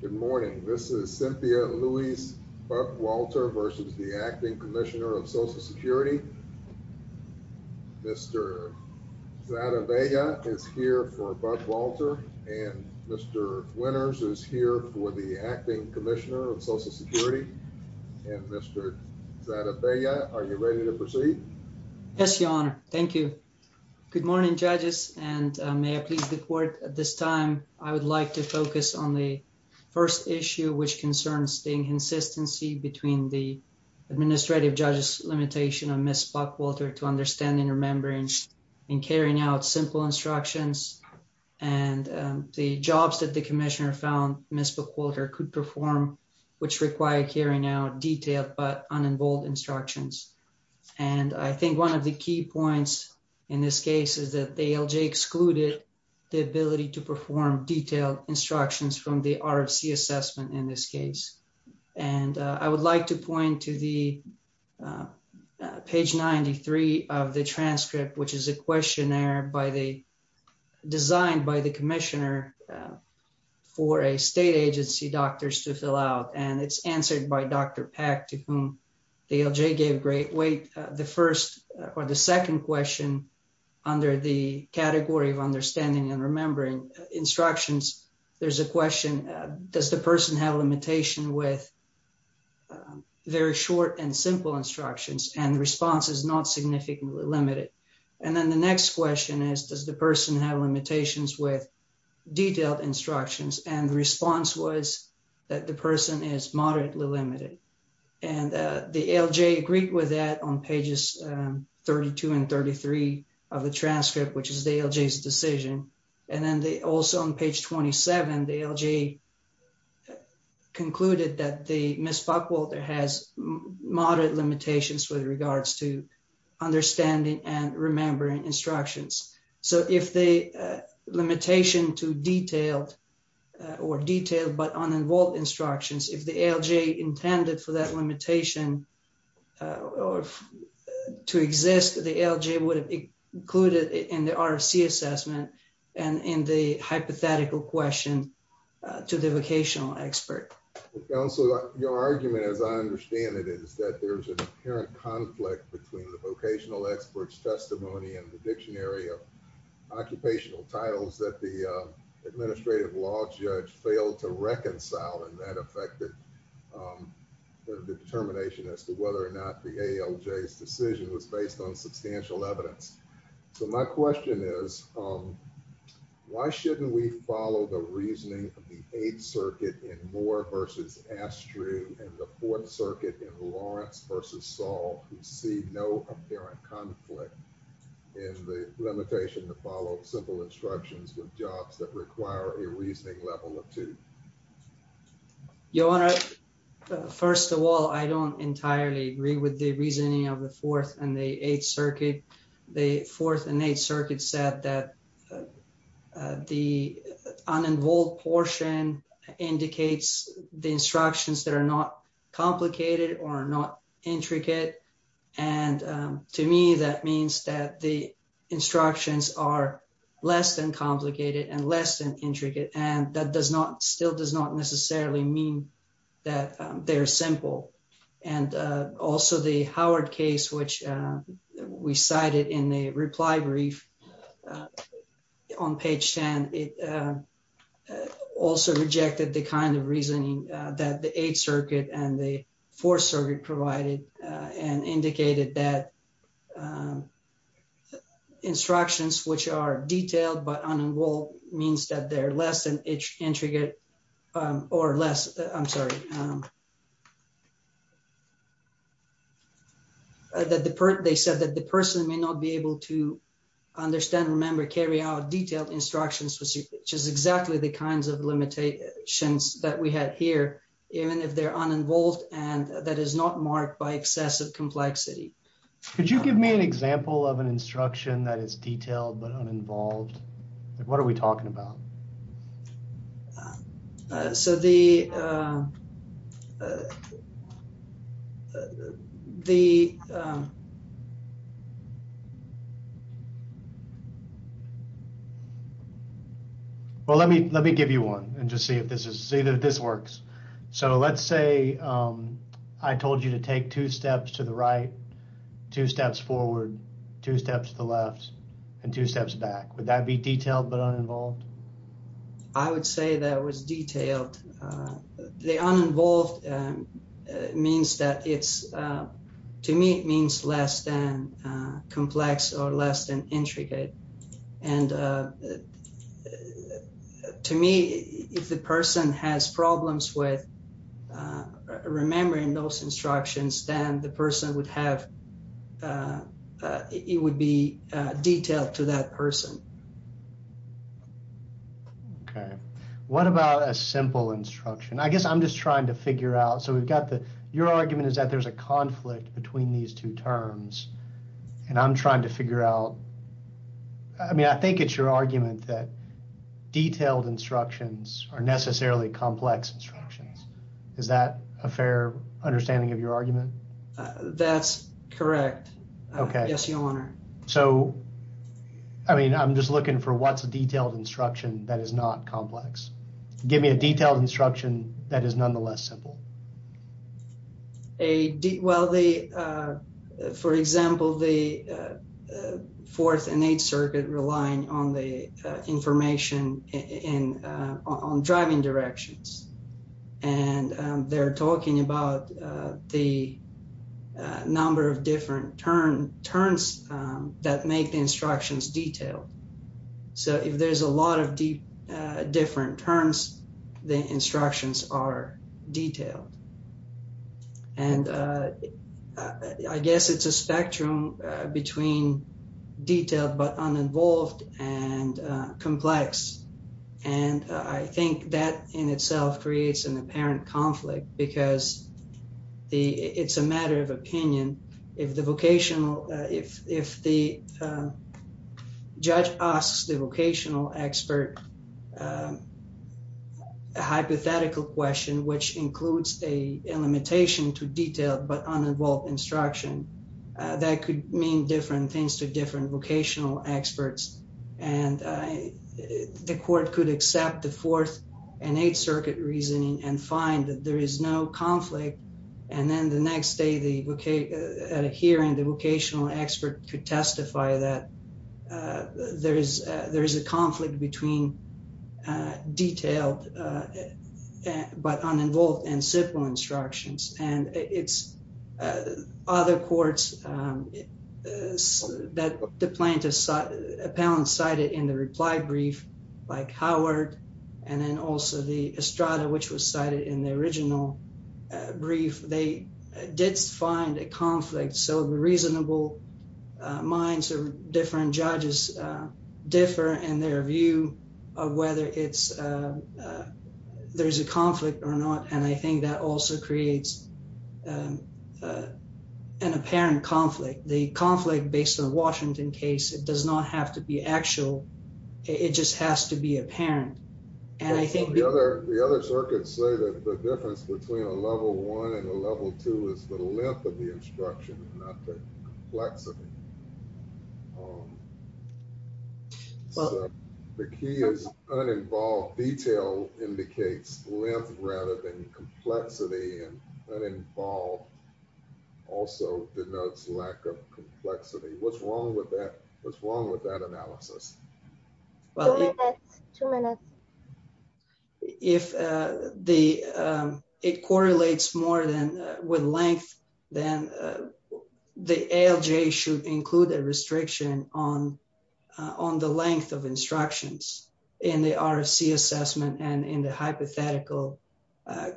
Good morning, this is Cynthia Louise Buckwalter v. Acting Commissioner of Social Security. Mr. Zadeh Vega is here for Buckwalter. Mr. Winters is here for the Acting Commissioner of Social Security. Mr. Zadeh Vega, are you ready to proceed? Yes, Your Honor. Thank you. Good morning, judges, and may I please report at this time. I would like to focus on the first issue, which concerns the inconsistency between the administrative judge's limitation on Ms. Buckwalter to understanding, remembering, and carrying out simple instructions. And the jobs that the Commissioner found Ms. Buckwalter could perform, which required carrying out detailed but unenvolved instructions. And I think one of the key points in this case is that the ALJ excluded the ability to perform detailed instructions from the RFC assessment in this case. And I would like to point to the page 93 of the transcript, which is a questionnaire designed by the Commissioner for a state agency doctors to fill out. And it's answered by Dr. Peck, to whom the ALJ gave great weight. The first or the second question under the category of understanding and remembering instructions, there's a question, does the person have limitation with very short and simple instructions? And the response is not significantly limited. And then the next question is, does the person have limitations with detailed instructions? And the response was that the person is moderately limited. And the ALJ agreed with that on pages 32 and 33 of the transcript, which is the ALJ's decision. And then also on page 27, the ALJ concluded that Ms. Buckwalter has moderate limitations with regards to understanding and remembering instructions. So if the limitation to detailed or detailed but uninvolved instructions, if the ALJ intended for that limitation to exist, the ALJ would have included in the RFC assessment and in the hypothetical question to the vocational expert. So your argument, as I understand it, is that there's an apparent conflict between the vocational experts testimony and the dictionary of occupational titles that the administrative law judge failed to reconcile. And that affected the determination as to whether or not the ALJ's decision was based on substantial evidence. So my question is, why shouldn't we follow the reasoning of the Eighth Circuit in Moore v. Astry and the Fourth Circuit in Lawrence v. Saul, who see no apparent conflict in the limitation to follow simple instructions with jobs that require a reasoning level of two? Your Honor, first of all, I don't entirely agree with the reasoning of the Fourth and the Eighth Circuit. The Fourth and Eighth Circuit said that the uninvolved portion indicates the instructions that are not complicated or not intricate. And to me, that means that the instructions are less than complicated and less than intricate. And that still does not necessarily mean that they are simple. And also the Howard case, which we cited in the reply brief on page 10, it also rejected the kind of reasoning that the Eighth Circuit and the Fourth Circuit provided and indicated that instructions which are detailed but uninvolved means that they're less than intricate or less. I'm sorry. They said that the person may not be able to understand, remember, carry out detailed instructions, which is exactly the kinds of limitations that we had here, even if they're uninvolved and that is not marked by excessive complexity. Could you give me an example of an instruction that is detailed but uninvolved? What are we talking about? So the... The... Well, let me give you one and just see if this works. So let's say I told you to take two steps to the right, two steps forward, two steps to the left, and two steps back. Would that be detailed but uninvolved? I would say that was detailed. The uninvolved means that it's... To me, it means less than complex or less than intricate. And to me, if the person has problems with remembering those instructions, then the person would have... It would be detailed to that person. Okay. What about a simple instruction? I guess I'm just trying to figure out... So we've got the... Your argument is that there's a conflict between these two terms, and I'm trying to figure out... I mean, I think it's your argument that detailed instructions are necessarily complex instructions. Is that a fair understanding of your argument? That's correct. Okay. Yes, Your Honor. So, I mean, I'm just looking for what's a detailed instruction that is not complex. Give me a detailed instruction that is nonetheless simple. Well, for example, the Fourth and Eighth Circuit rely on the information on driving directions. And they're talking about the number of different turns that make the instructions detailed. So if there's a lot of different turns, the instructions are detailed. And I guess it's a spectrum between detailed but uninvolved and complex. And I think that in itself creates an apparent conflict because it's a matter of opinion. If the vocational... If the judge asks the vocational expert a hypothetical question, which includes a limitation to detailed but uninvolved instruction, that could mean different things to different vocational experts. And the court could accept the Fourth and Eighth Circuit reasoning and find that there is no conflict. And then the next day at a hearing, the vocational expert could testify that there is a conflict between detailed but uninvolved and simple instructions. And it's other courts that the plaintiff's appellant cited in the reply brief, like Howard, and then also the Estrada, which was cited in the original brief. They did find a conflict. So the reasonable minds of different judges differ in their view of whether there's a conflict or not. And I think that also creates an apparent conflict. The conflict based on the Washington case, it does not have to be actual. It just has to be apparent. The other circuits say that the difference between a level one and a level two is the length of the instruction, not the complexity. The key is uninvolved. Detail indicates length rather than complexity, and uninvolved also denotes lack of complexity. What's wrong with that? What's wrong with that analysis? Two minutes. If it correlates more with length, then the ALJ should include a restriction on the length of instructions in the RFC assessment and in the hypothetical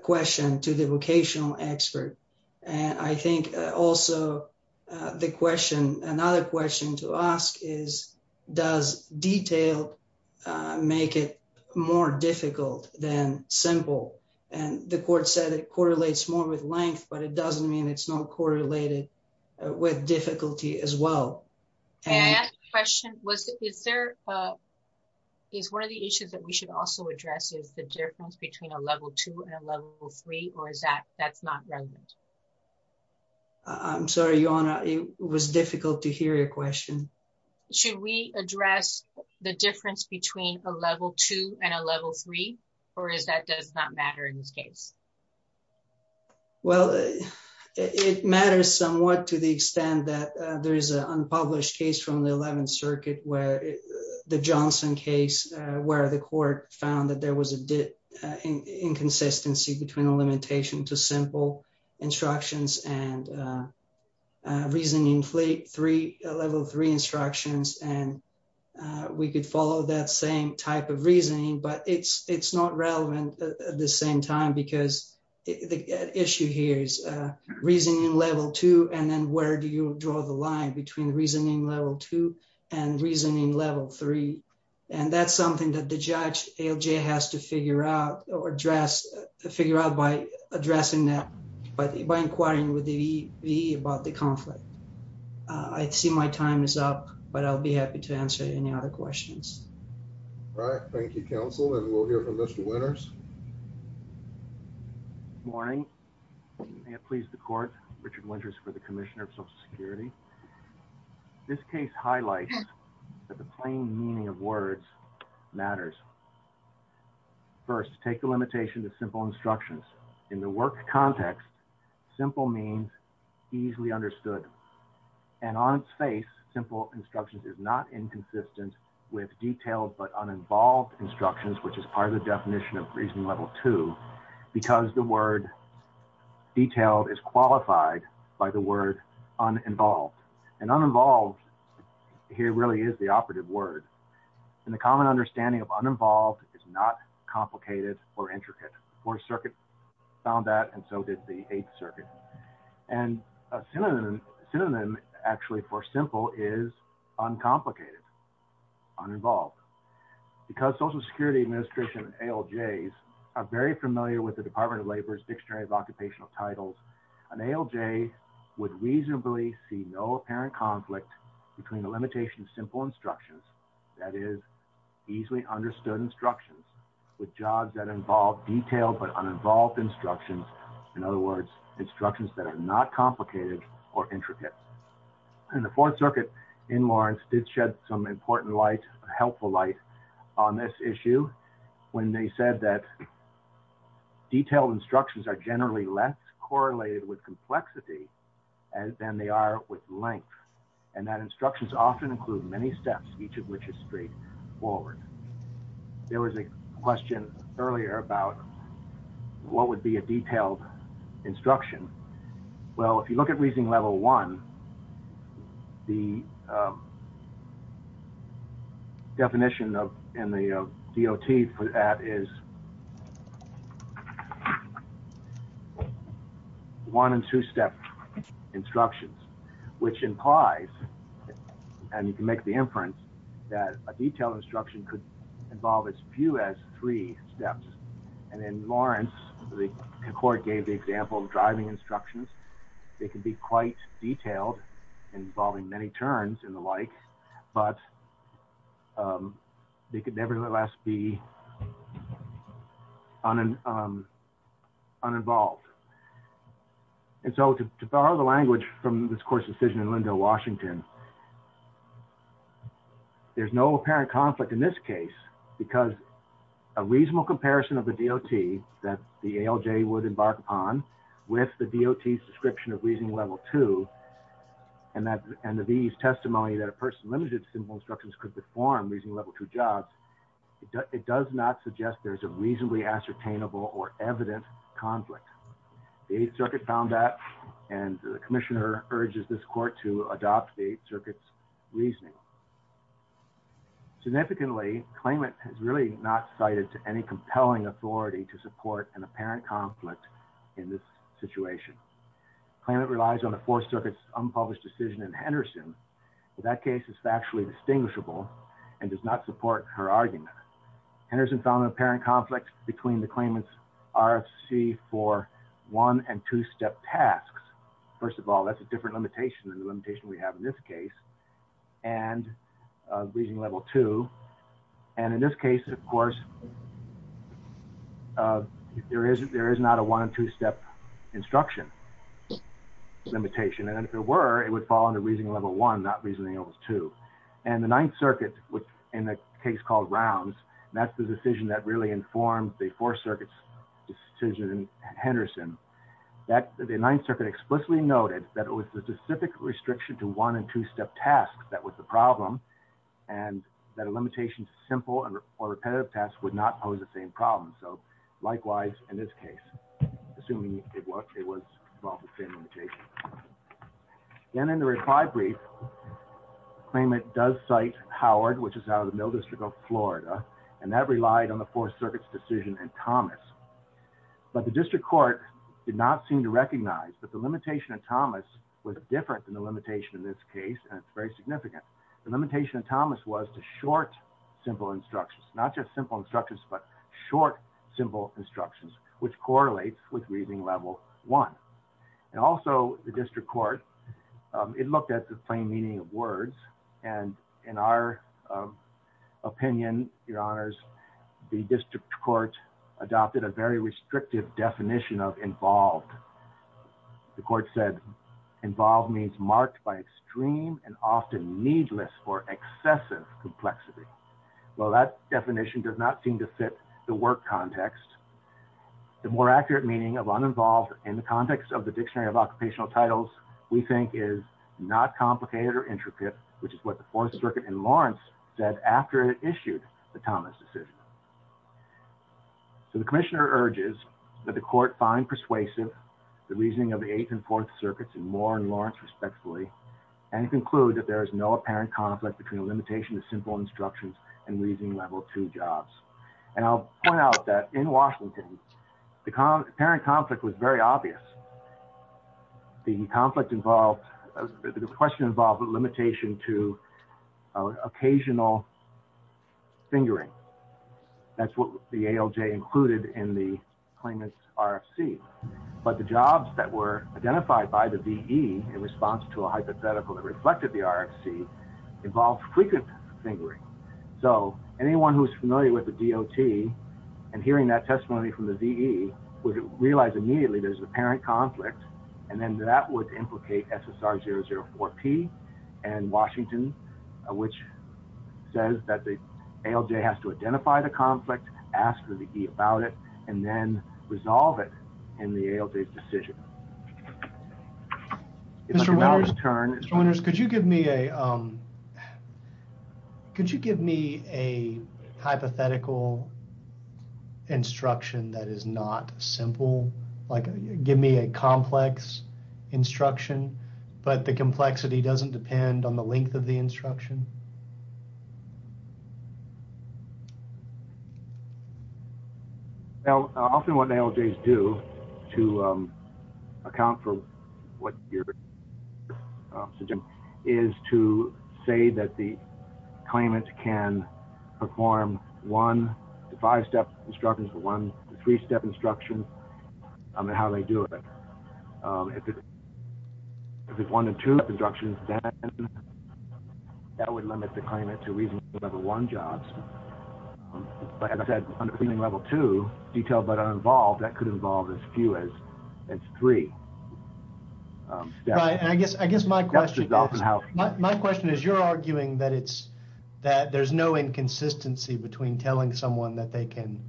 question to the vocational expert. And I think also the question, another question to ask is, does detail make it more difficult than simple? And the court said it correlates more with length, but it doesn't mean it's not correlated with difficulty as well. Can I ask a question? Is one of the issues that we should also address is the difference between a level two and a level three, or is that that's not relevant? I'm sorry, Your Honor, it was difficult to hear your question. Should we address the difference between a level two and a level three, or is that does not matter in this case? Well, it matters somewhat to the extent that there is an unpublished case from the 11th Circuit where the Johnson case where the court found that there was a inconsistency between a limitation to simple instructions and reasoning level three instructions. And we could follow that same type of reasoning, but it's not relevant at the same time because the issue here is reasoning level two. And then where do you draw the line between reasoning level two and reasoning level three? And that's something that the judge, ALJ, has to figure out or address, figure out by addressing that by inquiring with the VE about the conflict. I see my time is up, but I'll be happy to answer any other questions. All right. Thank you, counsel. And we'll hear from Mr. Winters. Morning. May it please the court. Richard Winters for the Commissioner of Social Security. This case highlights that the plain meaning of words matters. First, take the limitation to simple instructions. In the work context, simple means easily understood. And on its face, simple instructions is not inconsistent with detailed but uninvolved instructions, which is part of the definition of reasoning level two, because the word detailed is qualified by the word uninvolved. And uninvolved here really is the operative word. And the common understanding of uninvolved is not complicated or intricate. Fourth Circuit found that, and so did the Eighth Circuit. And a synonym actually for simple is uncomplicated, uninvolved. Because Social Security administration ALJs are very familiar with the Department of Labor's Dictionary of Occupational Titles, an ALJ would reasonably see no apparent conflict between the limitation of simple instructions, that is, easily understood instructions, with jobs that involve detailed but uninvolved instructions. In other words, instructions that are not complicated or intricate. And the Fourth Circuit in Lawrence did shed some important light, helpful light, on this issue when they said that detailed instructions are generally less correlated with complexity than they are with length. And that instructions often include many steps, each of which is straightforward. There was a question earlier about what would be a detailed instruction. Well, if you look at Reasoning Level 1, the definition in the DOT for that is one- and two-step instructions, which implies, and you can make the inference, that a detailed instruction could involve as few as three steps. And in Lawrence, the court gave the example of driving instructions. They could be quite detailed, involving many turns and the like, but they could nevertheless be uninvolved. And so to borrow the language from this court's decision in Lindo, Washington, there's no apparent conflict in this case because a reasonable comparison of the DOT that the ALJ would embark upon with the DOT's description of Reasoning Level 2 and the VE's testimony that a person limited to simple instructions could perform Reasoning Level 2 jobs, it does not suggest there's a reasonably ascertainable or evident conflict. The Eighth Circuit found that, and the Commissioner urges this court to adopt the Eighth Circuit's reasoning. Significantly, Claimant has really not cited any compelling authority to support an apparent conflict in this situation. Claimant relies on the Fourth Circuit's unpublished decision in Henderson, but that case is factually distinguishable and does not support her argument. Henderson found an apparent conflict between the Claimant's RFC for one- and two-step tasks. First of all, that's a different limitation than the limitation we have in this case, and Reasoning Level 2. And in this case, of course, there is not a one- and two-step instruction limitation. And if there were, it would fall under Reasoning Level 1, not Reasoning Level 2. And the Ninth Circuit, in a case called Rounds, and that's the decision that really informed the Fourth Circuit's decision in Henderson, the Ninth Circuit explicitly noted that it was the specific restriction to one- and two-step tasks that was the problem, and that a limitation to simple or repetitive tasks would not pose the same problem. So, likewise, in this case, assuming it was involved with the same limitation. Then in the reply brief, the Claimant does cite Howard, which is out of the Middle District of Florida, and that relied on the Fourth Circuit's decision in Thomas. But the District Court did not seem to recognize that the limitation in Thomas was different than the limitation in this case, and it's very significant. The limitation in Thomas was to short simple instructions, not just simple instructions, but short simple instructions, which correlates with Reasoning Level 1. And also, the District Court, it looked at the plain meaning of words. And in our opinion, Your Honors, the District Court adopted a very restrictive definition of involved. The Court said involved means marked by extreme and often needless or excessive complexity. Well, that definition does not seem to fit the work context. The more accurate meaning of uninvolved in the context of the Dictionary of Occupational Titles, we think, is not complicated or intricate, which is what the Fourth Circuit in Lawrence said after it issued the Thomas decision. So the Commissioner urges that the Court find persuasive the reasoning of the Eighth and Fourth Circuits in Moore and Lawrence, respectfully, and conclude that there is no apparent conflict between a limitation to simple instructions and Reasoning Level 2 jobs. And I'll point out that in Washington, the apparent conflict was very obvious. The conflict involved, the question involved a limitation to occasional fingering. That's what the ALJ included in the claimant's RFC. But the jobs that were identified by the DE in response to a hypothetical that reflected the RFC involved frequent fingering. So anyone who's familiar with the DOT and hearing that testimony from the DE would realize immediately there's an apparent conflict, and then that would implicate SSR 004P and Washington, which says that the ALJ has to identify the conflict, ask the DE about it, and then resolve it in the ALJ's decision. Mr. Winters, could you give me a hypothetical instruction that is not simple? Like give me a complex instruction, but the complexity doesn't depend on the length of the instruction? Well, often what ALJs do to account for what you're suggesting is to say that the claimant can perform one to five-step instructions, one to three-step instructions, and how they do it. If it's one to two-step instructions, then that would not be a simple instruction. That would limit the claimant to reasonable level one jobs. But as I said, under reasonable level two, detailed but uninvolved, that could involve as few as three steps. Right, and I guess my question is you're arguing that there's no inconsistency between telling someone that they can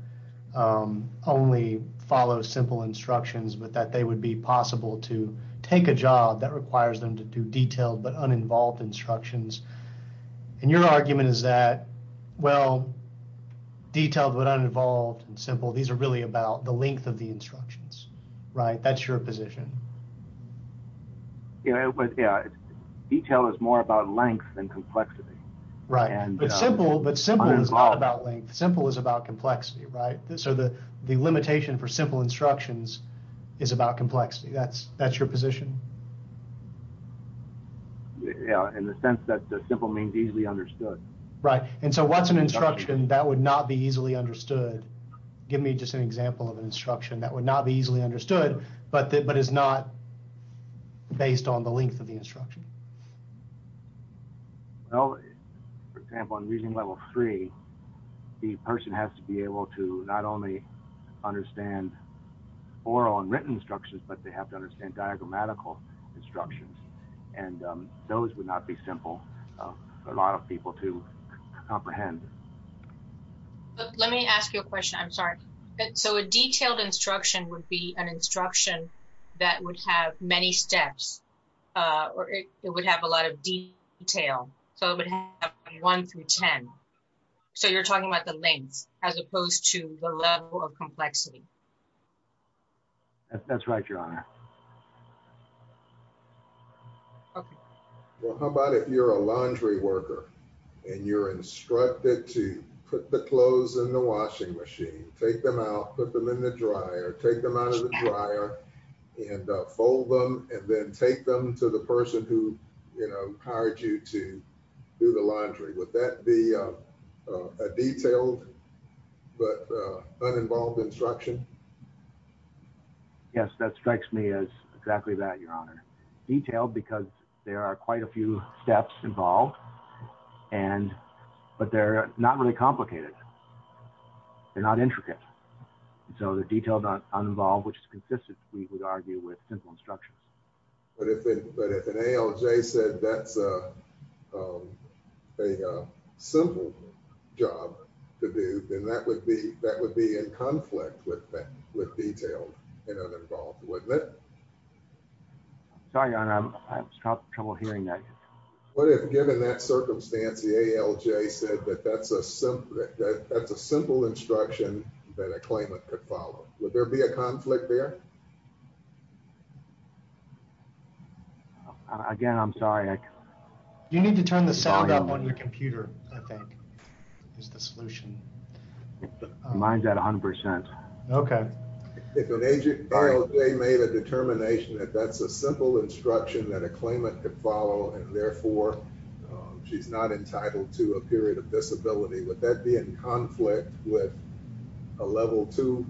only follow simple instructions but that they would be possible to take a job that requires them to do detailed but uninvolved instructions. And your argument is that, well, detailed but uninvolved and simple, these are really about the length of the instructions, right? That's your position. Yeah, detail is more about length than complexity. Right, but simple is not about length. Simple is about complexity, right? So the limitation for simple instructions is about complexity. That's your position? Yeah, in the sense that simple means easily understood. Right, and so what's an instruction that would not be easily understood? Give me just an example of an instruction that would not be easily understood but is not based on the length of the instruction. Well, for example, in reasonable level three, the person has to be able to not only understand oral and written instructions, but they have to understand diagrammatical instructions. And those would not be simple for a lot of people to comprehend. Let me ask you a question. I'm sorry. So a detailed instruction would be an instruction that would have many steps, or it would have a lot of detail. So it would have one through ten. So you're talking about the length as opposed to the level of complexity. That's right, Your Honor. Well, how about if you're a laundry worker and you're instructed to put the clothes in the washing machine, take them out, put them in the dryer, take them out of the dryer, and fold them, and then take them to the person who, you know, hired you to do the laundry. Would that be a detailed but uninvolved instruction? Yes, that strikes me as exactly that, Your Honor. Detailed because there are quite a few steps involved, but they're not really complicated. They're not intricate. So the detailed but uninvolved, which is consistent, we would argue, with simple instructions. But if an ALJ said that's a simple job to do, then that would be in conflict with detailed and uninvolved, wouldn't it? Sorry, Your Honor. I'm having trouble hearing that. What if, given that circumstance, the ALJ said that that's a simple instruction that a claimant could follow? Would there be a conflict there? Again, I'm sorry. You need to turn the sound up on your computer, I think, is the solution. Mine's at 100%. Okay. If an ALJ made a determination that that's a simple instruction that a claimant could follow, and therefore she's not entitled to a period of disability, would that be in conflict with a level two?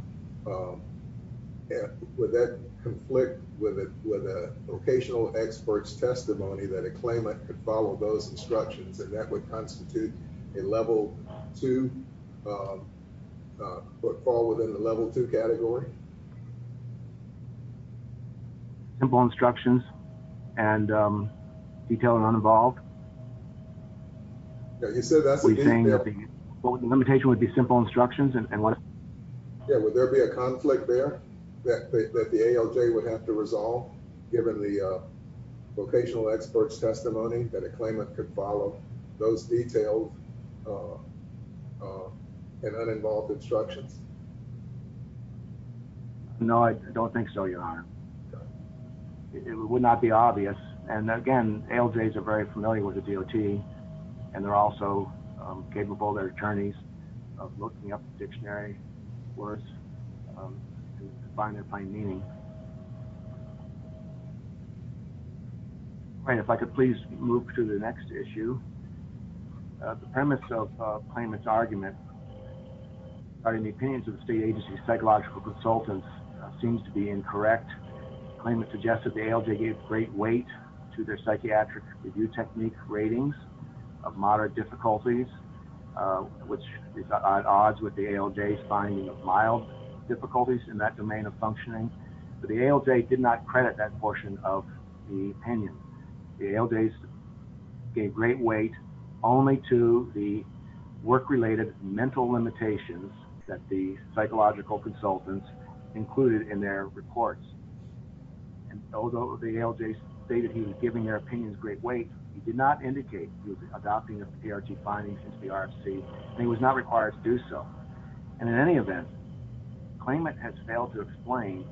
Would that conflict with a vocational expert's testimony that a claimant could follow those instructions, and that would constitute a level two, fall within the level two category? Simple instructions and detailed and uninvolved? You said that's a limitation. Well, the limitation would be simple instructions. Yeah, would there be a conflict there that the ALJ would have to resolve, given the vocational expert's testimony that a claimant could follow those detailed and uninvolved instructions? No, I don't think so, Your Honor. It would not be obvious. And, again, ALJs are very familiar with the DOT, and they're also capable, their attorneys, of looking up the dictionary, of course, to find their plain meaning. All right, if I could please move to the next issue. The premise of the claimant's argument regarding the opinions of the state agency's psychological consultants seems to be incorrect. The claimant suggested the ALJ gave great weight to their psychiatric review technique ratings of moderate difficulties, which is at odds with the ALJ's finding of mild difficulties in that domain of functioning. But the ALJ did not credit that portion of the opinion. The ALJs gave great weight only to the work-related mental limitations that the psychological consultants included in their reports. And although the ALJs stated he was giving their opinions great weight, he did not indicate he was adopting the PRT findings into the RFC, and he was not required to do so. And in any event, the claimant has failed to explain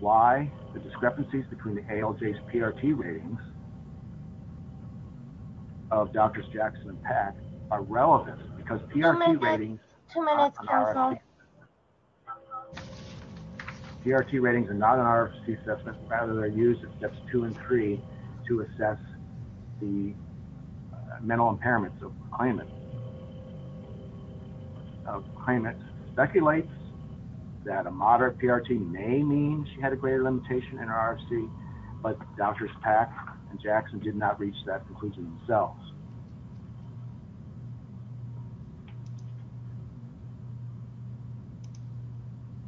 why the discrepancies between the ALJ's PRT ratings of Drs. Jackson and Pack are relevant, because PRT ratings are not an RFC assessment. PRT ratings are not an RFC assessment. Rather, they're used in Steps 2 and 3 to assess the mental impairments of the claimant. The claimant speculates that a moderate PRT may mean she had a greater limitation in her RFC, but Drs. Pack and Jackson did not reach that conclusion themselves.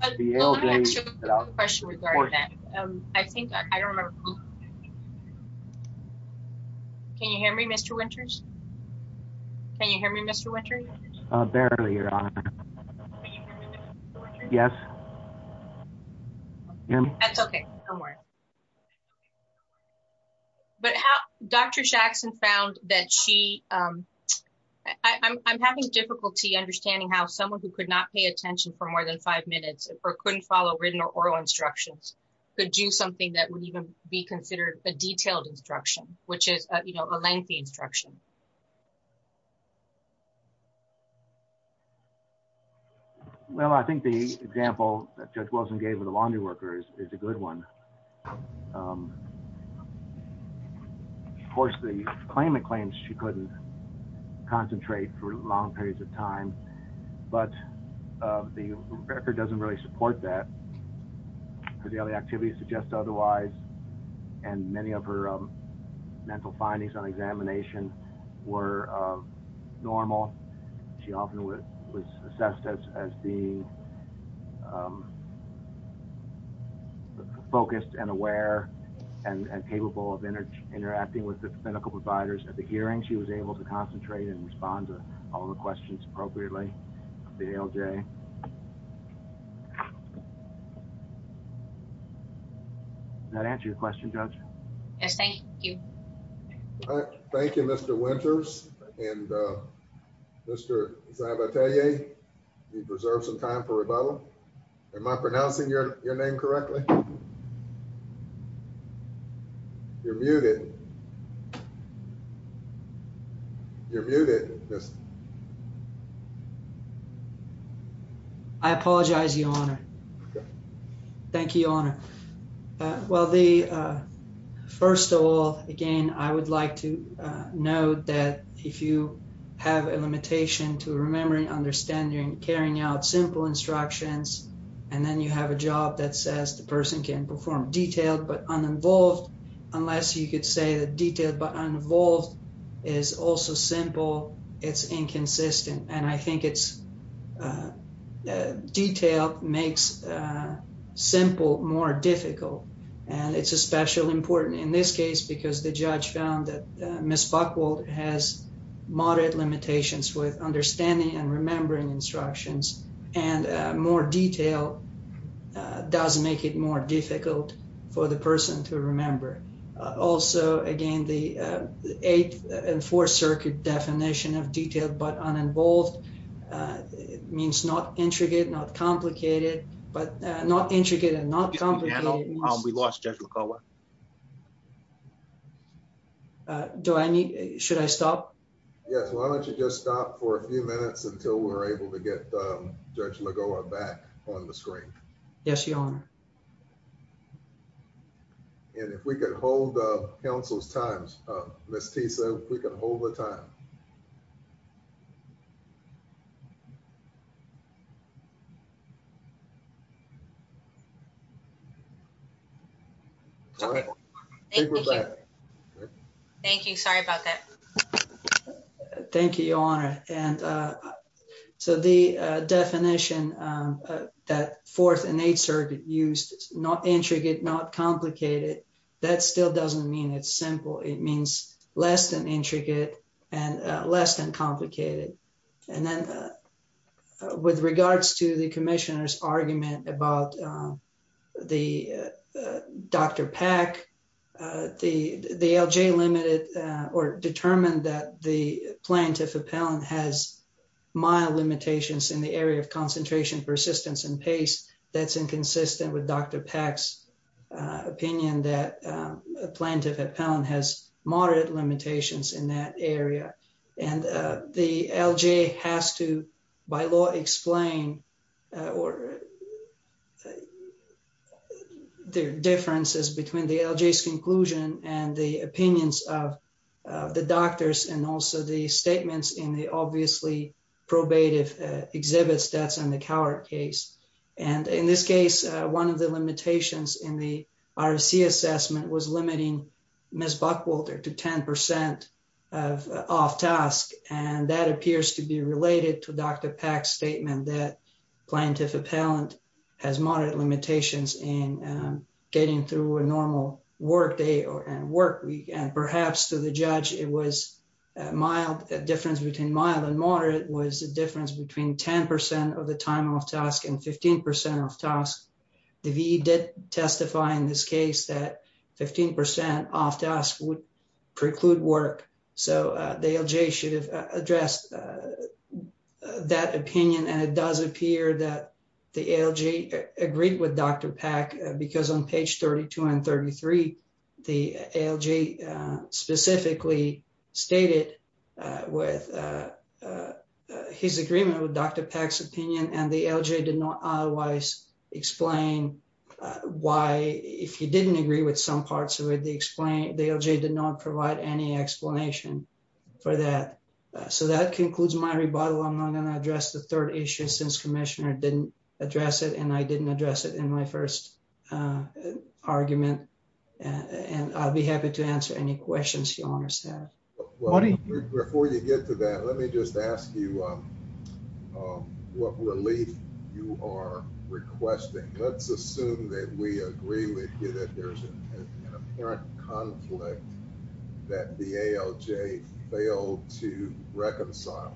Can you hear me, Mr. Winters? Can you hear me, Mr. Winters? Barely, Your Honor. Yes. That's okay. Somewhere. But Dr. Jackson found that she – I'm having difficulty understanding how someone who could not pay attention for more than five minutes or couldn't follow written or oral instructions could do something that would even be considered a detailed instruction, which is a lengthy instruction. Well, I think the example that Judge Wilson gave with the laundry worker is a good one. Of course, the claimant claims she couldn't concentrate for long periods of time, but the record doesn't really support that, because the other activities suggest otherwise, and many of her mental findings on examination were normal. She often was assessed as being focused and aware and capable of interacting with the medical providers at the hearing. She was able to concentrate and respond to all the questions appropriately at the ALJ. Okay. Does that answer your question, Judge? Yes, thank you. Thank you, Mr. Winters. And Mr. Zabatelle, you've reserved some time for rebuttal. You're muted. You're muted. I apologize, Your Honor. Okay. Thank you, Your Honor. Well, first of all, again, I would like to note that if you have a limitation to remembering, understanding, carrying out simple instructions, and then you have a job that says the person can perform detailed but uninvolved, unless you could say that detailed but uninvolved is also simple, it's inconsistent. And I think it's detailed makes simple more difficult, and it's especially important in this case because the judge found that Ms. Buckwold has moderate limitations with understanding and remembering instructions, and more detail does make it more difficult for the person to remember. Also, again, the Eighth and Fourth Circuit definition of detailed but uninvolved means not intricate, not complicated, but not intricate and not complicated. We lost Judge McCullough. Should I stop? Yes. Why don't you just stop for a few minutes until we're able to get Judge McGovern back on the screen? Yes, Your Honor. And if we could hold counsel's time, Ms. Tisa, if we could hold the time. Okay. Thank you. Thank you. Sorry about that. Thank you, Your Honor. And so the definition that Fourth and Eighth Circuit used, not intricate, not complicated, that still doesn't mean it's simple. It means less than intricate and less than complicated. And then with regards to the commissioner's argument about Dr. Pack, the LJ limited or determined that the plaintiff appellant has mild limitations in the area of concentration, persistence, and pace. That's inconsistent with Dr. Pack's opinion that a plaintiff appellant has moderate limitations in that area. And the LJ has to, by law, explain the differences between the LJ's conclusion and the opinions of the doctors and also the statements in the obviously probative exhibits that's in the Cowart case. And in this case, one of the limitations in the RFC assessment was limiting Ms. Buckwalter to 10% of off-task. And that appears to be related to Dr. Pack's statement that plaintiff appellant has moderate limitations in getting through a normal work day and work week. And perhaps to the judge, a difference between mild and moderate was a difference between 10% of the time off-task and 15% off-task. The VE did testify in this case that 15% off-task would preclude work. So the LJ should have addressed that opinion. And it does appear that the LJ agreed with Dr. Pack because on page 32 and 33, the LJ specifically stated his agreement with Dr. Pack's opinion. And the LJ did not otherwise explain why, if he didn't agree with some parts of it, the LJ did not provide any explanation for that. So that concludes my rebuttal. I'm not going to address the third issue since Commissioner didn't address it, and I didn't address it in my first argument. And I'll be happy to answer any questions you want to ask. Before you get to that, let me just ask you what relief you are requesting. Let's assume that we agree with you that there's an apparent conflict that the ALJ failed to reconcile.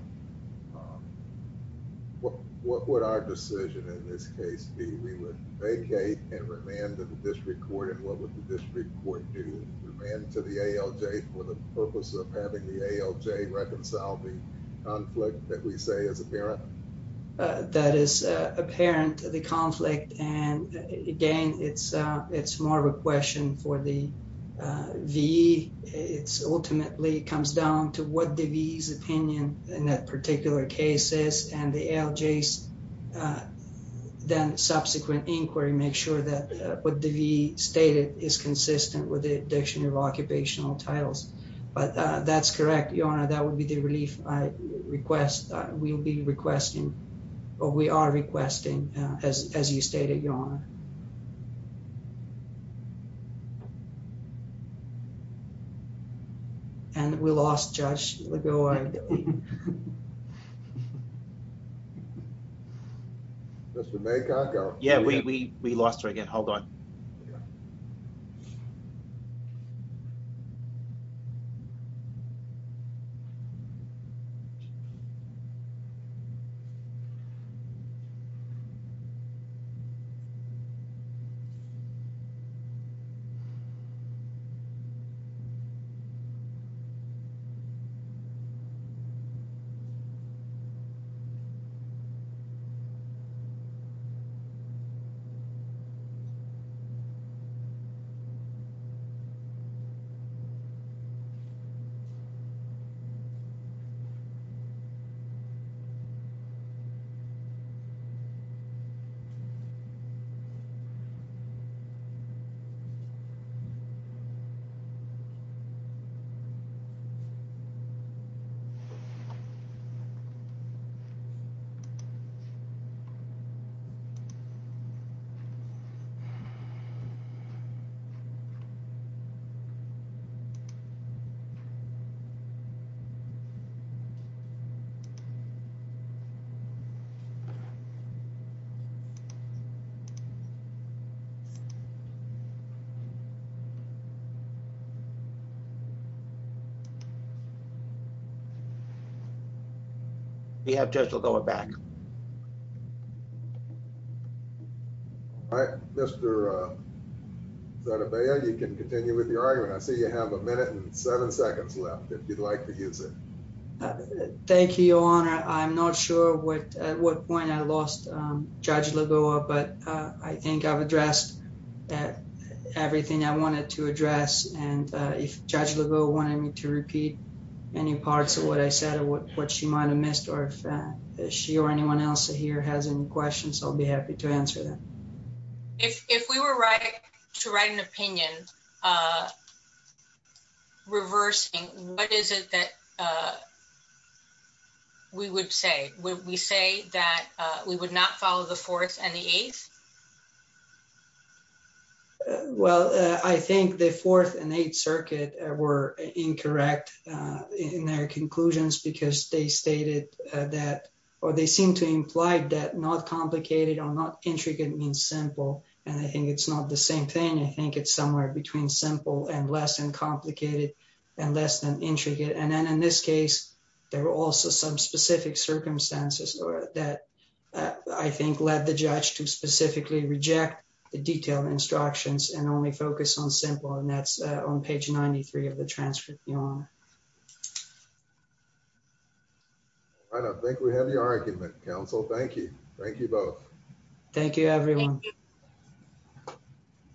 What would our decision in this case be? We would vacate and remand to the district court. And what would the district court do? Remand to the ALJ for the purpose of having the ALJ reconcile the conflict that we say is apparent? That is apparent, the conflict. And again, it's more of a question for the VE. Ultimately, it comes down to what the VE's opinion in that particular case is. And the ALJ's then subsequent inquiry makes sure that what the VE stated is consistent with the dictionary of occupational titles. But that's correct, Your Honor, that would be the relief I request. We'll be requesting, or we are requesting, as you stated, Your Honor. And we lost Judge Lagoa. Mr. Maycock? Yeah, we lost her again. Hold on. Hold on. Hold on. We have Judge Lagoa back. All right, Mr. Sadabea, you can continue with your argument. I see you have a minute and seven seconds left, if you'd like to use it. Thank you, Your Honor. I'm not sure at what point I lost Judge Lagoa, but I think I've addressed everything I wanted to address. And if Judge Lagoa wanted me to repeat any parts of what I said or what she might have missed, or if she or anyone else here has any questions, I'll be happy to answer them. If we were to write an opinion reversing, what is it that we would say? Would we say that we would not follow the fourth and the eighth? Well, I think the fourth and eighth circuit were incorrect in their conclusions because they stated that, or they seem to imply that not complicated or not intricate means simple. And I think it's not the same thing. I think it's somewhere between simple and less than complicated and less than intricate. And then in this case, there were also some specific circumstances that I think led the judge to specifically reject the detailed instructions and only focus on simple. And that's on page 93 of the transcript, Your Honor. I don't think we have the argument, counsel. Thank you. Thank you both. Thank you, everyone.